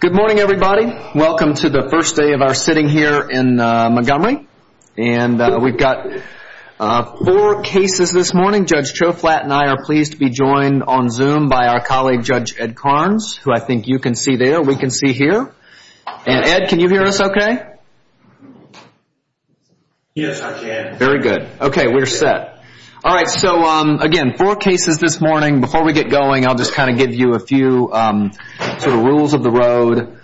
Good morning everybody. Welcome to the first day of our sitting here in Montgomery. We've got four cases this morning. Judge Choflat and I are pleased to be joined on Zoom by our colleague Judge Ed Karnes, who I think you can see there, we can see here. Ed, can you hear us okay? Yes, I can. Very good. Okay, we're set. All right, so again, four cases this morning. Before we get going, I'll just kind of give you a few rules of the road.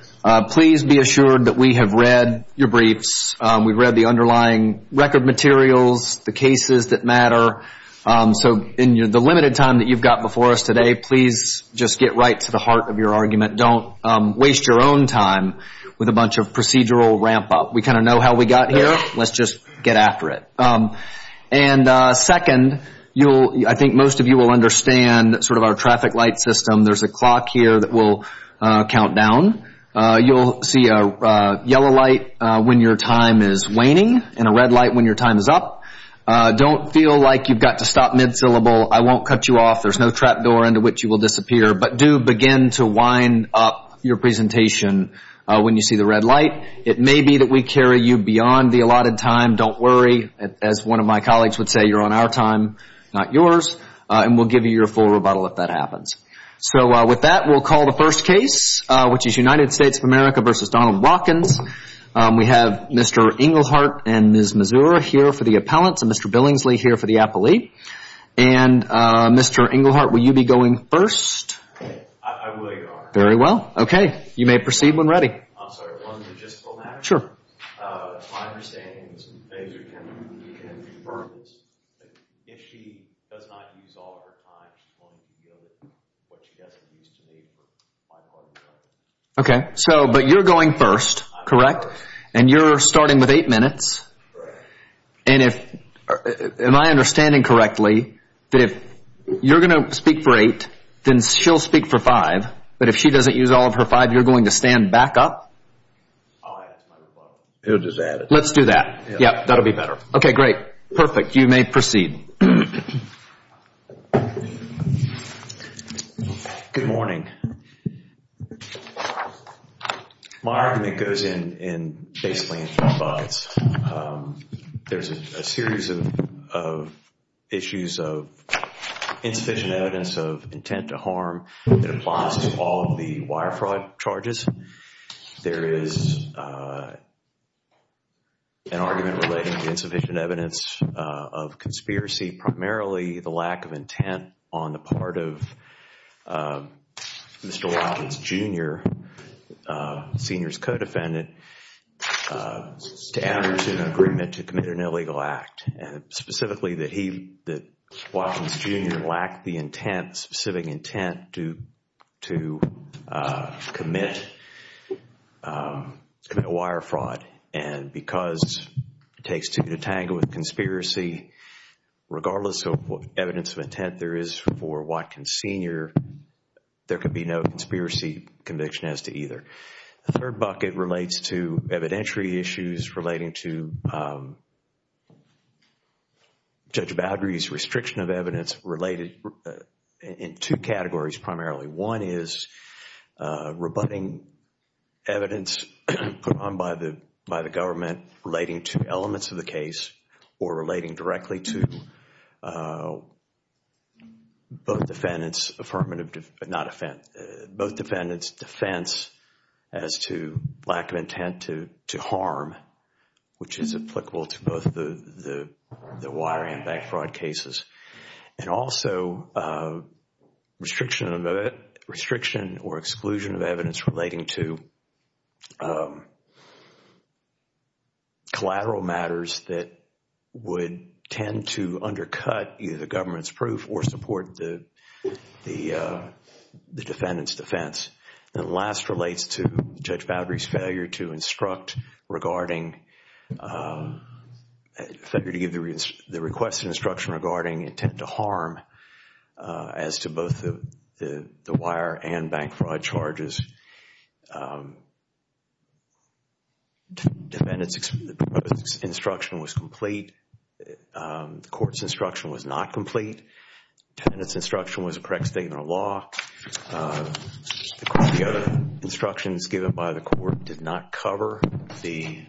Please be assured that we have read your briefs. We've read the underlying record materials, the cases that matter. So in the limited time that you've got before us today, please just get right to the heart of your argument. Don't waste your own time with a bunch of procedural ramp up. We kind of know how we got here. Let's just get after it. And second, I think most of you will understand sort of our traffic light system. There's a clock here that will count down. You'll see a yellow light when your time is waning and a red light when your time is up. Don't feel like you've got to stop mid-syllable. I won't cut you off. There's no trap door into which you will disappear. But do begin to wind up your presentation when you see the red light. It may be that we carry you beyond the allotted time. Don't of my colleagues would say you're on our time, not yours. And we'll give you your full rebuttal if that happens. So with that, we'll call the first case, which is United States of America versus Donald Watkins. We have Mr. Englehart and Ms. Mazur here for the appellants and Mr. Billingsley here for the appellate. And Mr. Englehart, will you be going first? I will, Your Honor. Very well. Okay. You may proceed when ready. I'm sorry. One logistical matter. Sure. My understanding is that Ms. Mazur can defer this. If she does not use all her time, she's going to be dealing with what she doesn't use to make for my part of the argument. Okay. So, but you're going first, correct? And you're starting with eight minutes. Correct. Am I understanding correctly that if you're going to speak for eight, then she'll speak for five. But if she doesn't use all of her time, she'll stand back up? I'll add it to my rebuttal. He'll just add it. Let's do that. Yeah, that'll be better. Okay, great. Perfect. You may proceed. Good morning. My argument goes in basically in three parts. There's a series of issues of insufficient evidence of intent to harm that applies to all of the wire fraud charges. There is an argument relating to insufficient evidence of conspiracy, primarily the lack of intent on the part of Mr. Wilkins Jr., senior's co-defendant, to address an agreement to commit an illegal act. Specifically that he, that Wilkins Jr. lacked the intent, specific intent to commit wire fraud. And because it takes to detangle with conspiracy, regardless of what evidence of intent there is for Watkins Sr., there could be no conspiracy conviction as to either. The third bucket relates to evidentiary issues relating to restriction of evidence related in two categories primarily. One is rebutting evidence put on by the government relating to elements of the case or relating directly to both defendants defense as to lack of intent to harm, which is applicable to both the wiring and bank fraud cases. And also restriction or exclusion of evidence relating to collateral matters that would tend to undercut either the government's proof or support the Judge Boudry's failure to instruct regarding, failure to give the requested instruction regarding intent to harm as to both the wire and bank fraud charges. Defendant's instruction was complete. The court's instruction was not complete. Defendant's instruction was a correct statement of law. The other instructions given by the court did not cover the,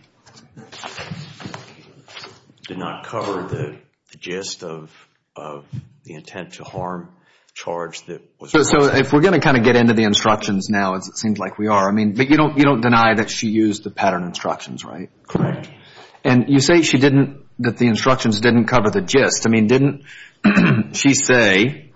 did not cover the gist of the intent to harm charge that was. So if we're going to kind of get into the instructions now as it seems like we are, I mean, but you don't, you don't deny that she used the pattern instructions, right? Correct. And you say she didn't, that the instructions didn't cover the gist. I mean, didn't she say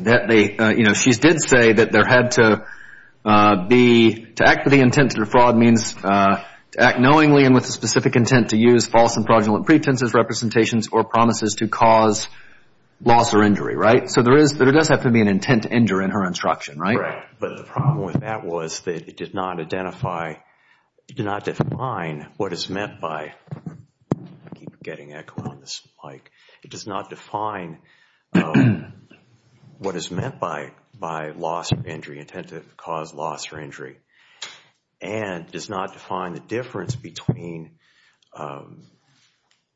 that they, you know, she did say that there had to be, to act with the intent to defraud means to act knowingly and with a specific intent to use false and fraudulent pretenses, representations, or promises to cause loss or injury, right? So there is, there does have to be an intent to injure in her instruction, right? Correct. But the problem with that was that it did not identify, it did not define what is meant by, I keep getting echo on this mic, it does not define what is meant by loss or injury, intent to cause loss or injury, and does not define the difference between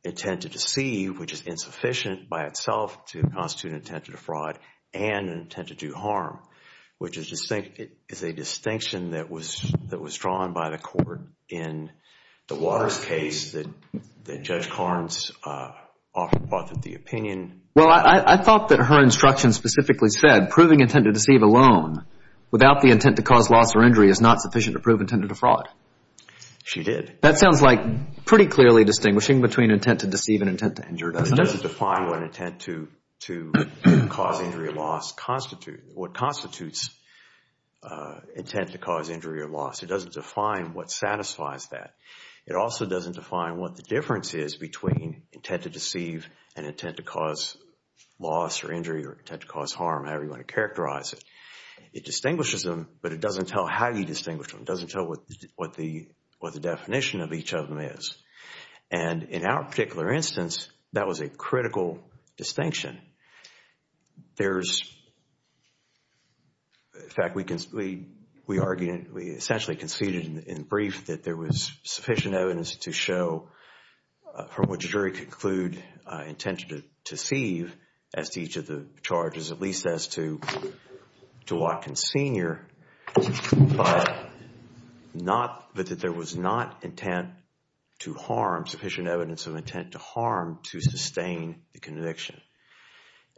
intent to deceive, which is insufficient by itself to constitute an intent to defraud, and an intent to do harm, which is a distinction that was the opinion. Well, I thought that her instruction specifically said proving intent to deceive alone without the intent to cause loss or injury is not sufficient to prove intent to defraud. She did. That sounds like pretty clearly distinguishing between intent to deceive and intent to injure. It doesn't define what intent to cause injury or loss constitute, what constitutes intent to cause injury or loss. It doesn't define what satisfies that. It also doesn't define what the difference is between intent to deceive and intent to cause loss or injury or intent to cause harm, however you want to characterize it. It distinguishes them, but it doesn't tell how you distinguish them. It doesn't tell what the definition of each of them is. And in our particular instance, that was a critical distinction. In fact, we argued, we essentially conceded in brief that there was sufficient evidence to show from which a jury could conclude intent to deceive as to each of the charges, at least as to Dworkin Sr., but that there was not sufficient evidence of intent to harm to sustain the case.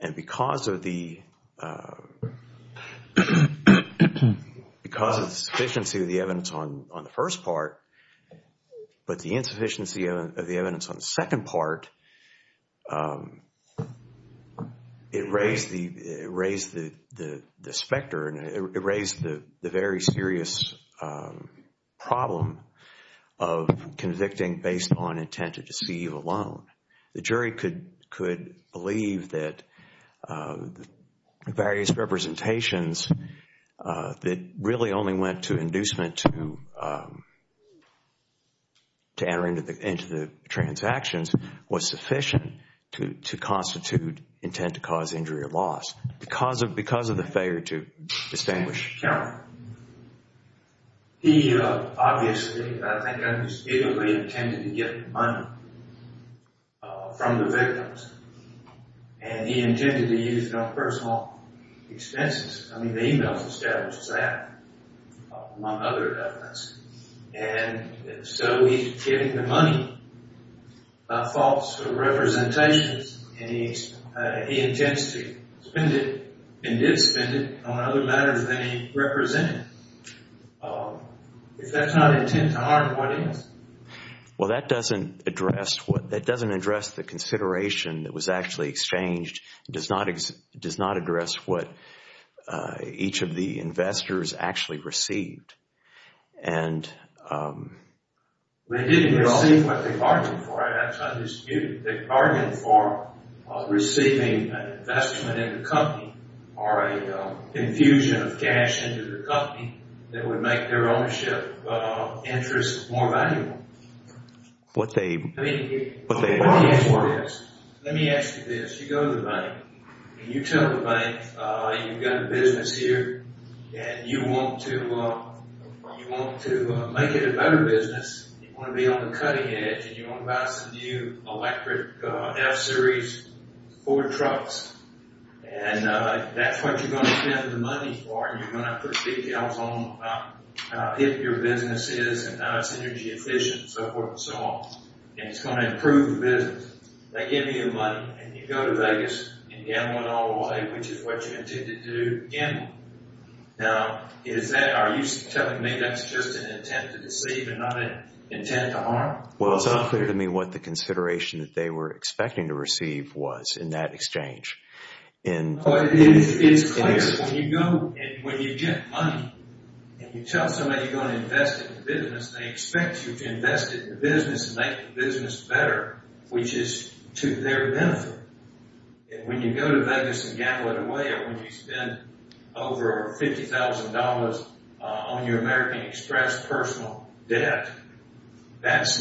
And because of the sufficiency of the evidence on the first part, but the insufficiency of the evidence on the second part, it raised the specter and it raised the very serious problem of convicting based on intent to harm. We argued that various representations that really only went to inducement to enter into the transactions was sufficient to constitute intent to cause injury or loss, because of the failure to distinguish. He obviously, I think, unspeakably intended to get the money from the victims, and he intended to use it on personal expenses. I mean, the email establishes that, among other evidence. And so he's getting the money by false representations, and he intends to spend it and did spend it on other matters than he represented. If that's not intent to harm, what is? Well, that doesn't address the consideration that was actually exchanged. It does not address what each of the investors actually received. And they didn't receive what they argued for. That's undisputed. They argued for receiving an investment in the company or an infusion of cash into the company that would make their ownership interest more valuable. Let me ask you this. You go to the bank, and you tell the bank, you've got a business here, and you want to make it a better business. You want to be on the And that's what you're going to spend the money for, and you're going to put details on how hip your business is, and how it's energy efficient, and so forth and so on. And it's going to improve the business. They give you the money, and you go to Vegas and gamble it all away, which is what you intended to do, gamble. Now, are you telling me that's just an intent to deceive and not an intent to harm? Well, it's unclear to me what the consideration that they were expecting to receive was in that exchange. It's clear. When you get money, and you tell somebody you're going to invest it in the business, they expect you to invest it in the business and make the business better, which is to their benefit. And when you go to Vegas and gamble it away, or when you spend over $50,000 on your American Express personal debt, that's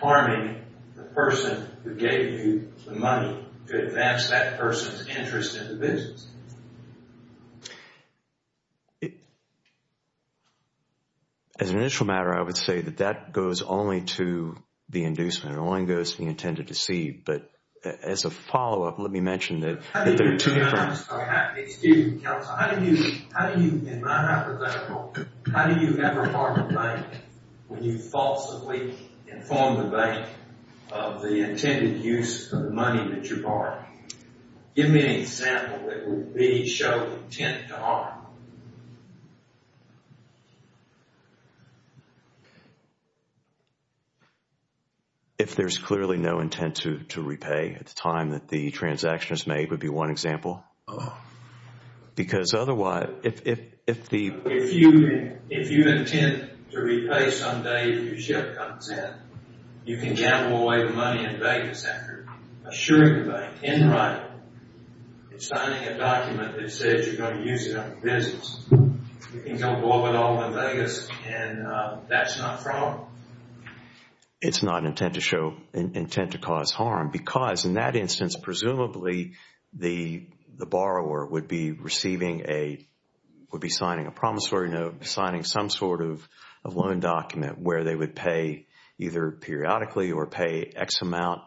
harming the person who gave you the money to advance that person's interest in the business. As an initial matter, I would say that that goes only to the inducement. It only goes to the intended to deceive. But as a follow-up, let me mention that there are two different... Excuse me, counsel. How do you, in my hypothetical, how do you ever harm a bank when you falsely inform the bank of the intended use of the money that you borrowed? Give me an example that would show intent to harm. If there's clearly no intent to repay at the time that the transaction is made, would be one example. Because otherwise, if the... You can gamble away the money in Vegas after assuring the bank in writing and signing a document that says you're going to use it on the business. You can go above and all in Vegas and that's not fraud. It's not intent to show, intent to cause harm because in that instance, presumably, the borrower would be receiving a, would be signing a promissory note, signing some sort of a loan document where they would pay either periodically or pay X amount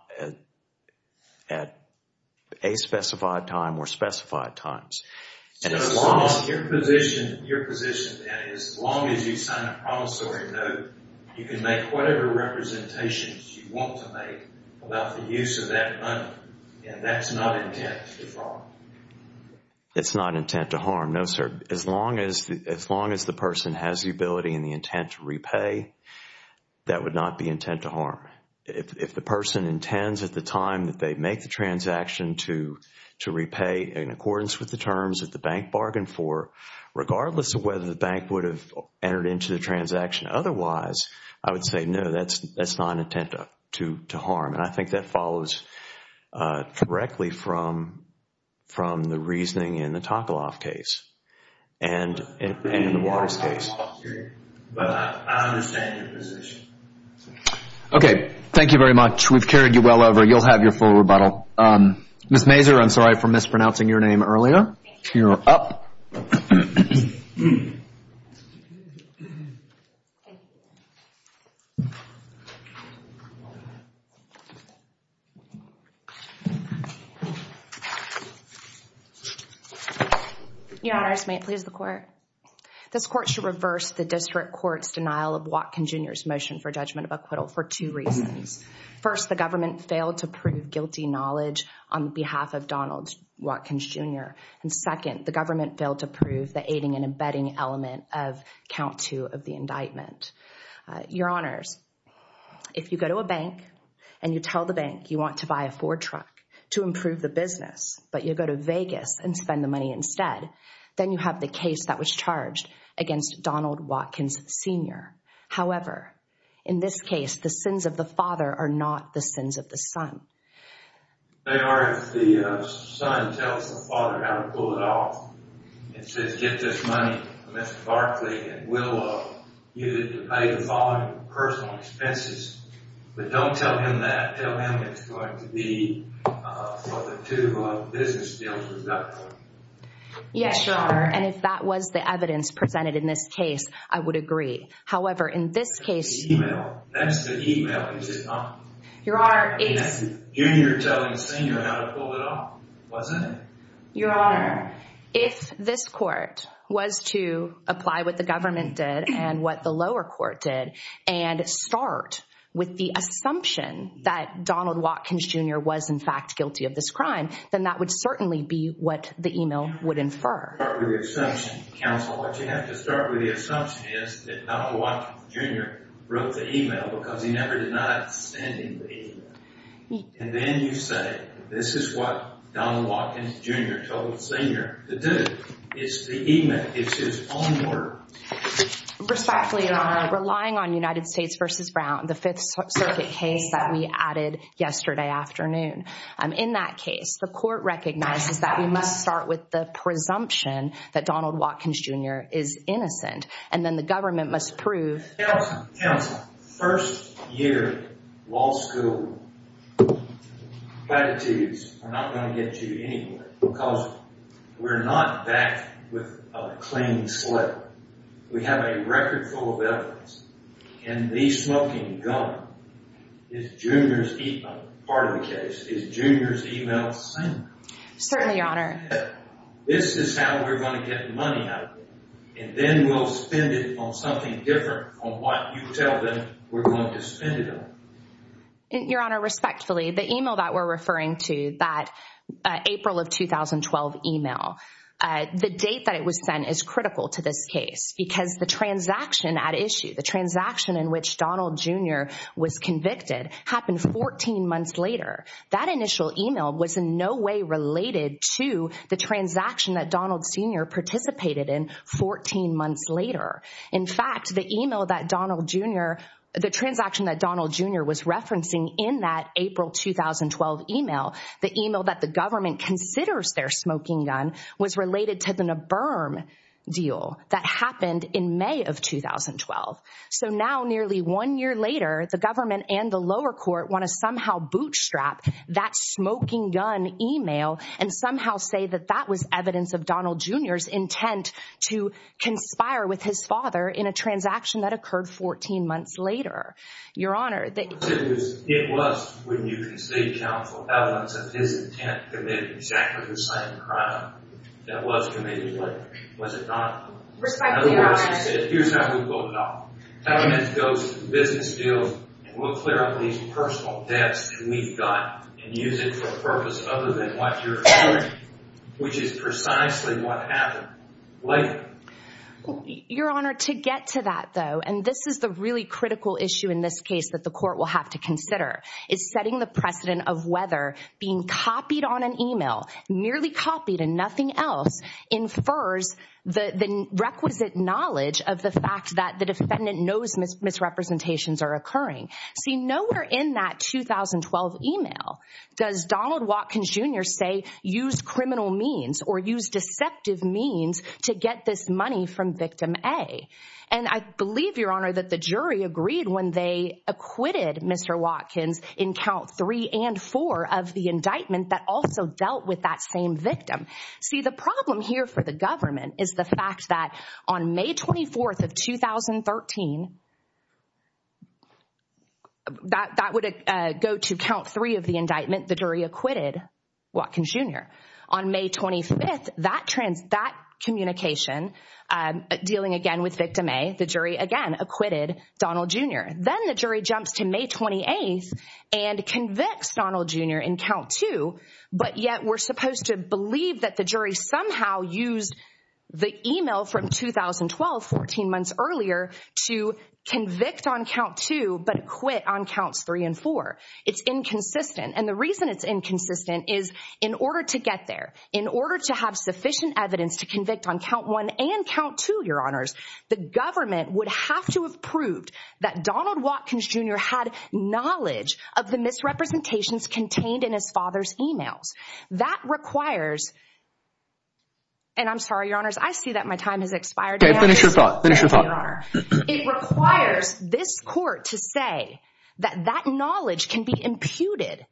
at a specified time or specified times. Your position then is as long as you sign a promissory note, you can make whatever representations you want to make about the use of that money and that's not intent to defraud. It's not intent to harm, no sir. As long as the person has the ability and the intent to repay, that would not be intent to harm. If the person intends at the time that they make the transaction to repay in accordance with the terms that the bank bargained for, regardless of whether the bank would have entered into the transaction otherwise, I would say no, that's not intent to harm and I think that follows directly from the reasoning in the Takaloff case and in the Waters case. But I understand your position. Okay. Thank you very much. We've carried you well over. You'll have your full rebuttal. Ms. Mazur, I'm sorry for mispronouncing your name earlier. You're up. Your honors, may it please the court. This court should reverse the district court's denial of Watkins Jr.'s motion for judgment of acquittal for two reasons. First, the government failed to prove guilty knowledge on behalf of Donald Watkins Jr. And second, the government failed to prove the aiding and abetting element of count two of the indictment. Your honors, if you go to a bank and you tell the bank you want to buy a Ford truck to improve the business, but you go to Vegas and spend the money instead, then you have the case that was charged against Donald Watkins Sr. However, in this case, the sins of the father are not the sins of the son. They are if the son tells the father how to pull it off. It says, get this money from Mr. Watkins Jr. But don't tell him that. Tell him it's going to be for the two business deals. Yes, your honor. And if that was the evidence presented in this case, I would agree. However, in this case, that's the email. Is it not? Junior telling Sr. how to pull it off, wasn't it? Your honor, if this court was to apply what the government did and what the lower court did, and start with the assumption that Donald Watkins Jr. was in fact guilty of this crime, then that would certainly be what the email would infer. You have to start with the assumption, counsel. What you have to start with the assumption is that Donald Watkins Jr. wrote the email because he never denied sending the email. And then you say, this is what Donald Watkins Jr. told Sr. to do. It's the email. It's his own word. Respectfully, your honor, relying on United States versus Brown, the Fifth Circuit case that we added yesterday afternoon. In that case, the court recognizes that we must start with the presumption that Donald Watkins Jr. is innocent. And then the government must prove- Counsel, first year law school, platitudes are not going to get you anywhere because we're not back with a clean slate. We have a record full of evidence. And the smoking gun is Junior's email. Part of the case is Junior's email sent. Certainly, your honor. This is how we're going to get money out of them. And then we'll spend it on something different on what you tell them we're going to spend it on. Your honor, respectfully, the email that we're referring to, that April of 2012 email, the date that it was sent is critical to this case because the transaction at issue, the transaction in which Donald Jr. was convicted happened 14 months later. That initial email was in no way related to the transaction that Donald Sr. participated in 14 months later. In fact, the email that Donald Jr., the transaction that Donald Jr. was referencing in that April 2012 email, the email that the government considers their smoking gun was related to the NABIRM deal that happened in May of 2012. So now nearly one year later, the government and the lower court want to somehow bootstrap that smoking gun email and somehow say that that was evidence of Donald Jr.'s intent to conspire with his father in a transaction that occurred 14 months later. Your honor, It was when you concede counsel evidence of his intent to commit exactly the same crime that was committed later. Was it not? In other words, he said, here's how we vote it off. Government goes to the business deals and we'll clear up these personal debts that we've got and use it for a purpose other than what you're asserting, which is precisely what happened. Why? Your honor, to get to that though, and this is the really critical issue in this case that the court will have to consider, is setting the precedent of whether being copied on an email, merely copied and nothing else, infers the requisite knowledge of the fact that the defendant knows misrepresentations are occurring. See, nowhere in that 2012 email does Donald get this money from victim A. And I believe, your honor, that the jury agreed when they acquitted Mr. Watkins in count three and four of the indictment that also dealt with that same victim. See, the problem here for the government is the fact that on May 24th of 2013, that would go to count three of the indictment, the jury acquitted Watkins Jr. On May 25th, that communication, dealing again with victim A, the jury again acquitted Donald Jr. Then the jury jumps to May 28th and convicts Donald Jr. in count two, but yet we're supposed to believe that the jury somehow used the email from 2012, 14 months earlier, to convict on count two, but quit on counts three and four. It's inconsistent. And the reason it's inconsistent is in order to get there, in order to have sufficient evidence to convict on count one and count two, your honors, the government would have to have proved that Donald Watkins Jr. had knowledge of the misrepresentations contained in his father's emails. That requires, and I'm sorry, your honors, I see that my time has expired. Okay, finish your thought, finish your thought. It requires this court to say that that knowledge can be imputed.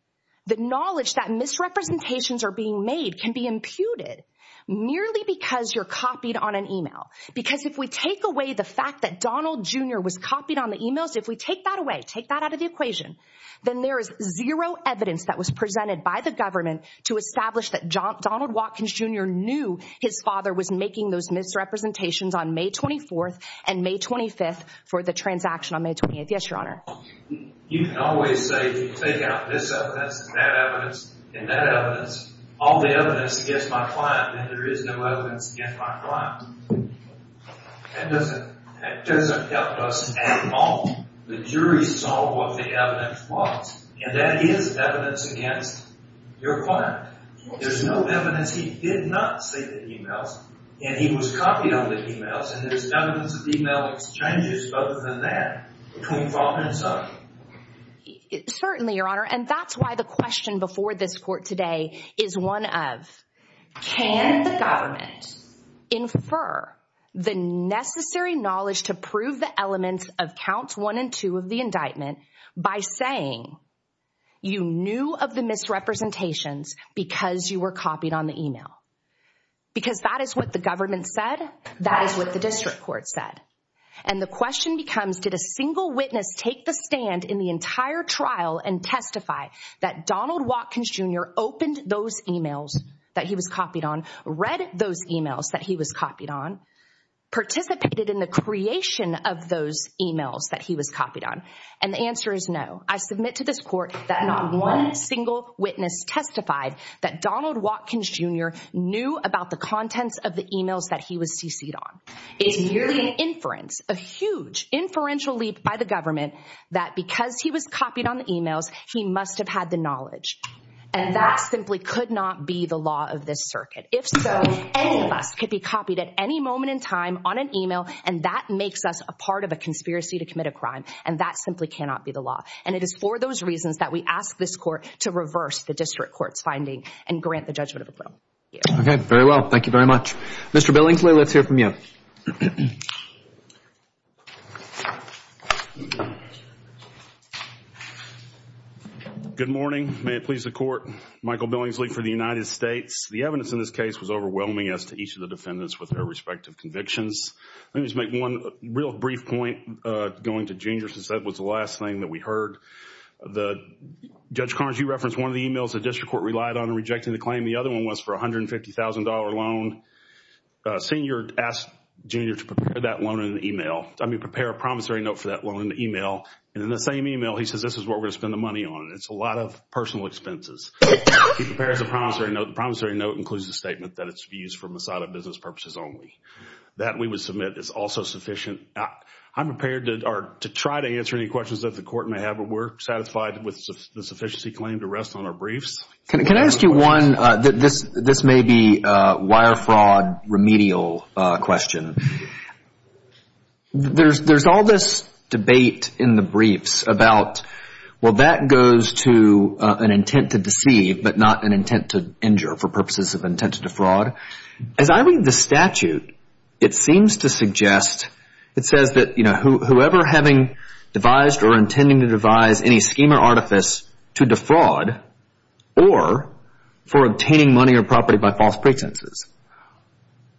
The knowledge that misrepresentations are being made can be imputed merely because you're copied on an email. Because if we take away the fact that Donald Jr. was copied on the emails, if we take that away, take that out of the equation, then there is zero evidence that was presented by the government to establish that Donald Watkins Jr. knew his father was making those misrepresentations on May 24th and May 25th for the transaction on May 28th. Yes, your honor. You can always say, take out this evidence and that evidence and that evidence, all the evidence against my client, and there is no evidence against my client. That doesn't help us at all. The jury saw what the evidence was, and that is evidence against your client. There's no evidence he did not say the emails, and he was copied on the emails, and there's evidence of email exchanges other than that between father and son. Certainly, your honor, and that's why the question before this court today is one of, can the government infer the necessary knowledge to prove the elements of counts one and two of the indictment by saying you knew of the misrepresentations because you were copied on the email? Because that is what the government said, that is what the district court said. And the question becomes, did a single witness take the stand in the entire trial and testify that Donald Watkins Jr. opened those emails that he was copied on, read those emails that he was copied on, participated in the creation of those emails that I submit to this court that not one single witness testified that Donald Watkins Jr. knew about the contents of the emails that he was cc'd on. It's merely an inference, a huge inferential leap by the government that because he was copied on the emails, he must have had the knowledge, and that simply could not be the law of this circuit. If so, any of us could be copied at any moment in time on an email, and that makes us a part of a conspiracy to commit a crime, and that simply cannot be the law. And it is for those reasons that we ask this court to reverse the district court's finding and grant the judgment of approval. Okay, very well. Thank you very much. Mr. Billingsley, let's hear from you. Good morning. May it please the Court. Michael Billingsley for the United States. The evidence in this case was overwhelming as to each of the defendants with their respective convictions. Let me just make one real brief point going to Jr. since that was the last thing that we heard. Judge Carnes, you referenced one of the emails the district court relied on in rejecting the claim. The other one was for a $150,000 loan. Senior asked Jr. to prepare that loan in an email, I mean, prepare a promissory note for that loan in the email. And in the same email, he says, this is what we're going to spend the money on. It's a lot of personal expenses. He prepares a promissory note. The promissory note includes the statement that it should be used from the business purposes only. That we would submit is also sufficient. I'm prepared to try to answer any questions that the Court may have, but we're satisfied with the sufficiency claim to rest on our briefs. Can I ask you one, this may be a wire fraud remedial question. There's all this debate in the briefs about, well, that goes to an intent to deceive, but not an intent to injure for the statute. It seems to suggest, it says that, you know, whoever having devised or intending to devise any scheme or artifice to defraud or for obtaining money or property by false pretenses,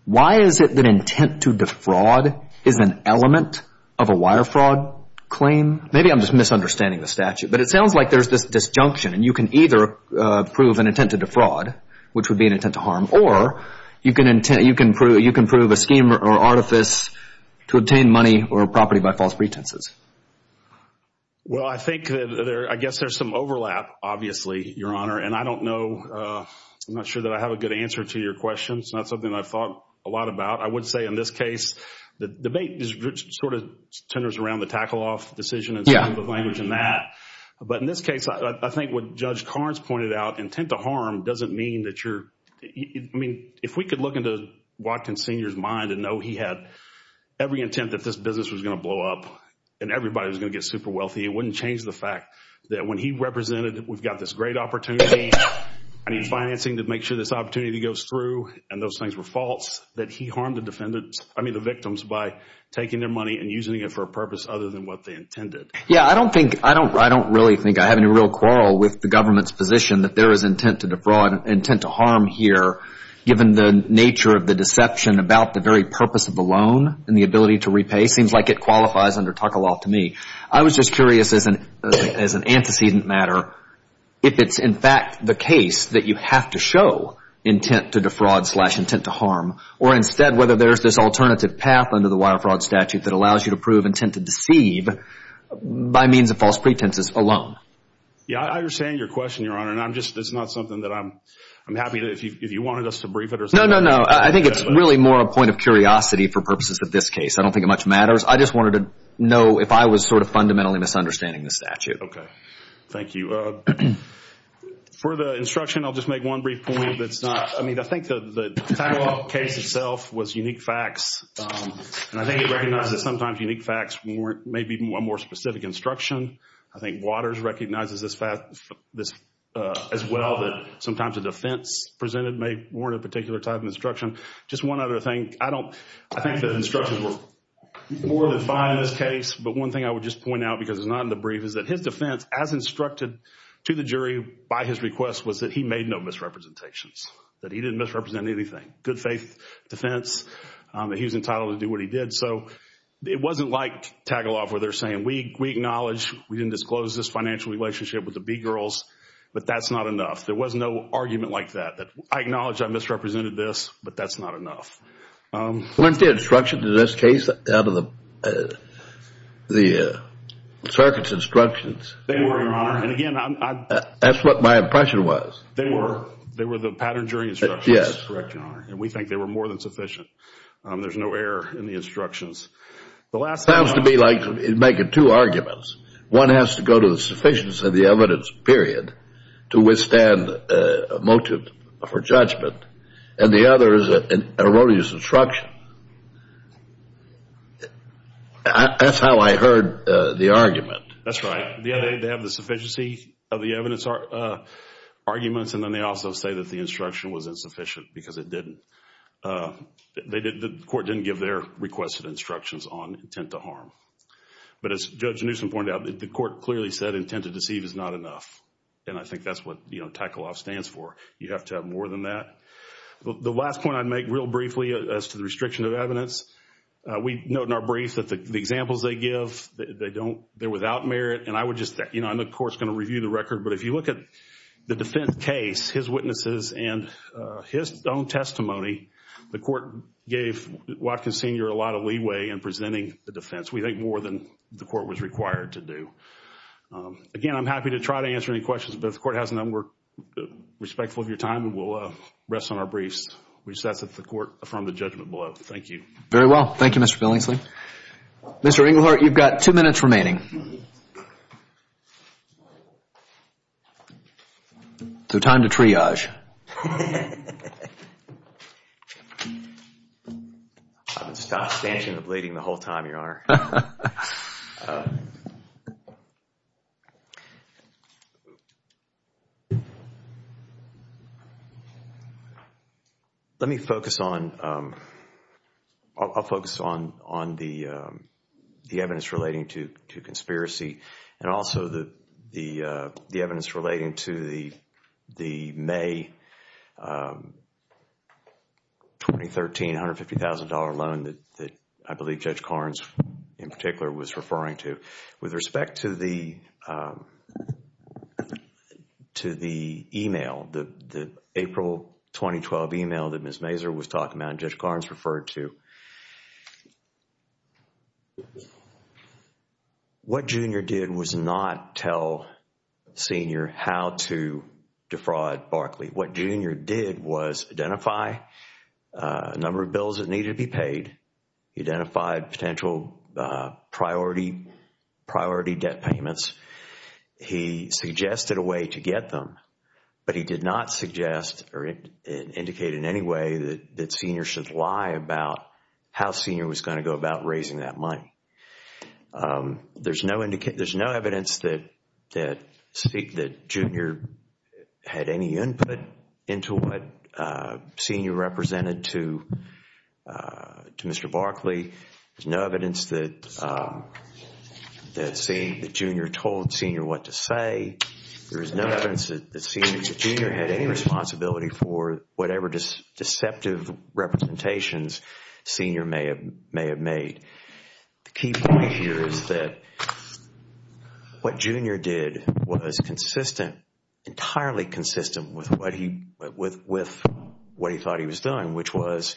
why is it that intent to defraud is an element of a wire fraud claim? Maybe I'm just misunderstanding the statute, but it sounds like there's this disjunction and you can either prove an intent to defraud, which would be an intent to harm, or you can prove a scheme or artifice to obtain money or property by false pretenses. Well, I think that there, I guess there's some overlap, obviously, Your Honor. And I don't know, I'm not sure that I have a good answer to your question. It's not something I've thought a lot about. I would say in this case, the debate sort of centers around the tackle-off decision and some of the language in that. But in this case, I think what Judge Carnes pointed out, intent to harm doesn't mean that you're, I mean, if we could look into Watkins Sr.'s mind and know he had every intent that this business was going to blow up and everybody was going to get super wealthy, it wouldn't change the fact that when he represented, we've got this great opportunity, I need financing to make sure this opportunity goes through, and those things were false, that he harmed the defendant, I mean, the victims by taking their money and using it for a purpose other than what they intended. Yeah, I don't think, I don't really think I have any real quarrel with the government's position that there is intent to defraud, intent to harm here, given the nature of the deception about the very purpose of the loan and the ability to repay. Seems like it qualifies under tackle-off to me. I was just curious as an antecedent matter, if it's in fact the case that you have to show intent to defraud slash intent to harm, or instead whether there's this alternative path under the wire fraud statute that allows you to prove intent to deceive by means of false pretenses alone. Yeah, I understand your question, Your Honor, and I'm just, it's not something that I'm, I'm happy to, if you wanted us to brief it or something. No, no, no, I think it's really more a point of curiosity for purposes of this case. I don't think it much matters. I just wanted to know if I was sort of fundamentally misunderstanding the statute. Okay, thank you. For the instruction, I'll just make one brief point that's not, I mean, I think the tackle-off case itself was unique facts, and I think it recognizes sometimes unique facts may be a more specific instruction. I think Waters recognizes this as well that sometimes a defense presented may warrant a particular type of instruction. Just one other thing, I don't, I think the instructions were more than fine in this case, but one thing I would just point out because it's not in the brief is that his defense, as instructed to the jury by his request, was that he made no misrepresentations, that he didn't misrepresent anything. Good faith defense, that he was entitled to do what he did, so it wasn't like tackle-off where they're saying, we acknowledge, we didn't disclose this financial relationship with the B-Girls, but that's not enough. There was no argument like that, that I acknowledge I misrepresented this, but that's not enough. When the instruction in this case, out of the circuit's instructions, they were, and again, that's what my impression was. They were. They were the pattern jury instructions. Yes. Correct, your honor, and we think they were more than sufficient. There's no error in the instructions. It sounds to me like you're making two arguments. One has to go to the sufficiency of the evidence, period, to withstand a motive for judgment, and the other is an erroneous instruction. That's how I heard the argument. That's right. They have the sufficiency of the evidence arguments, and then they also say that the instruction was insufficient because it didn't. The court didn't give their requested instructions on intent to harm, but as Judge Newsom pointed out, the court clearly said intent to deceive is not enough, and I think that's what tackle-off stands for. You have to have more than that. The last point I'd make real briefly as to the restriction of evidence, we note in our brief that the examples they give, they don't, they're without merit, and I would just, you know, I'm of course going to review the record, but if you look at the defense case, his witnesses, and his own testimony, the court gave Watkins Sr. a lot of leeway in presenting the defense. We think more than the court was required to do. Again, I'm respectful of your time, and we'll rest on our briefs. We just ask that the court affirm the judgment below. Thank you. Very well. Thank you, Mr. Billingsley. Mr. Ingleheart, you've got two minutes remaining. So time to triage. I've been stanching and bleeding the whole time, Your Honor. Let me focus on, I'll focus on the evidence relating to conspiracy and also the evidence relating to the May 2013 $150,000 loan that I believe Judge Carnes in particular was referring to. With respect to the email, the April 2012 email that Ms. Mazur was talking about and Judge Carnes referred to, what Junior did was not tell Sr. how to defraud Barclay. What Junior did was identify a number of bills that needed to be paid, identified potential priority debt payments. He suggested a way to get them, but he did not suggest or indicate in any way that Sr. should lie about how Sr. was going to go about raising that money. There's no evidence that Junior had any input into what Sr. represented to Mr. Barclay. There's no evidence that Junior told Sr. what to say. There is no evidence that Junior had any responsibility for whatever deceptive representations Sr. may have made. The key point here is that what Junior did was consistent, entirely consistent with what he thought he was doing, which was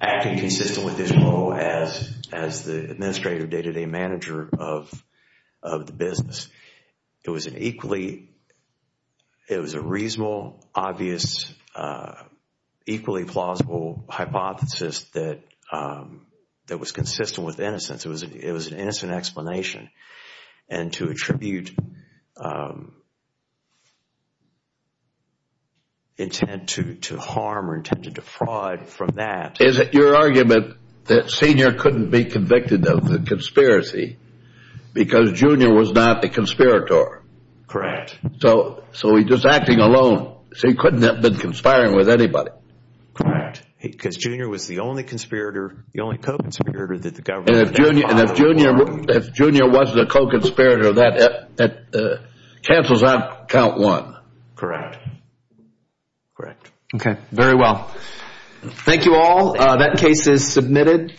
acting consistent with his role as the administrative day-to-day manager of the business. It was an equally, it was a reasonable, obvious, equally plausible hypothesis that was consistent with innocence. It was an innocent explanation and to attribute intent to harm or intent to defraud from that. Is it your argument that Sr. couldn't be convicted of the conspiracy because Junior was not the conspirator? Correct. So he's just acting alone. So he couldn't have been conspiring with anybody? Correct. Because Junior was the only conspirator, the only co-conspirator that the government had. And if Junior was the co-conspirator, that cancels out count one? Correct. Correct. Okay, very well. Thank you all. That case is submitted.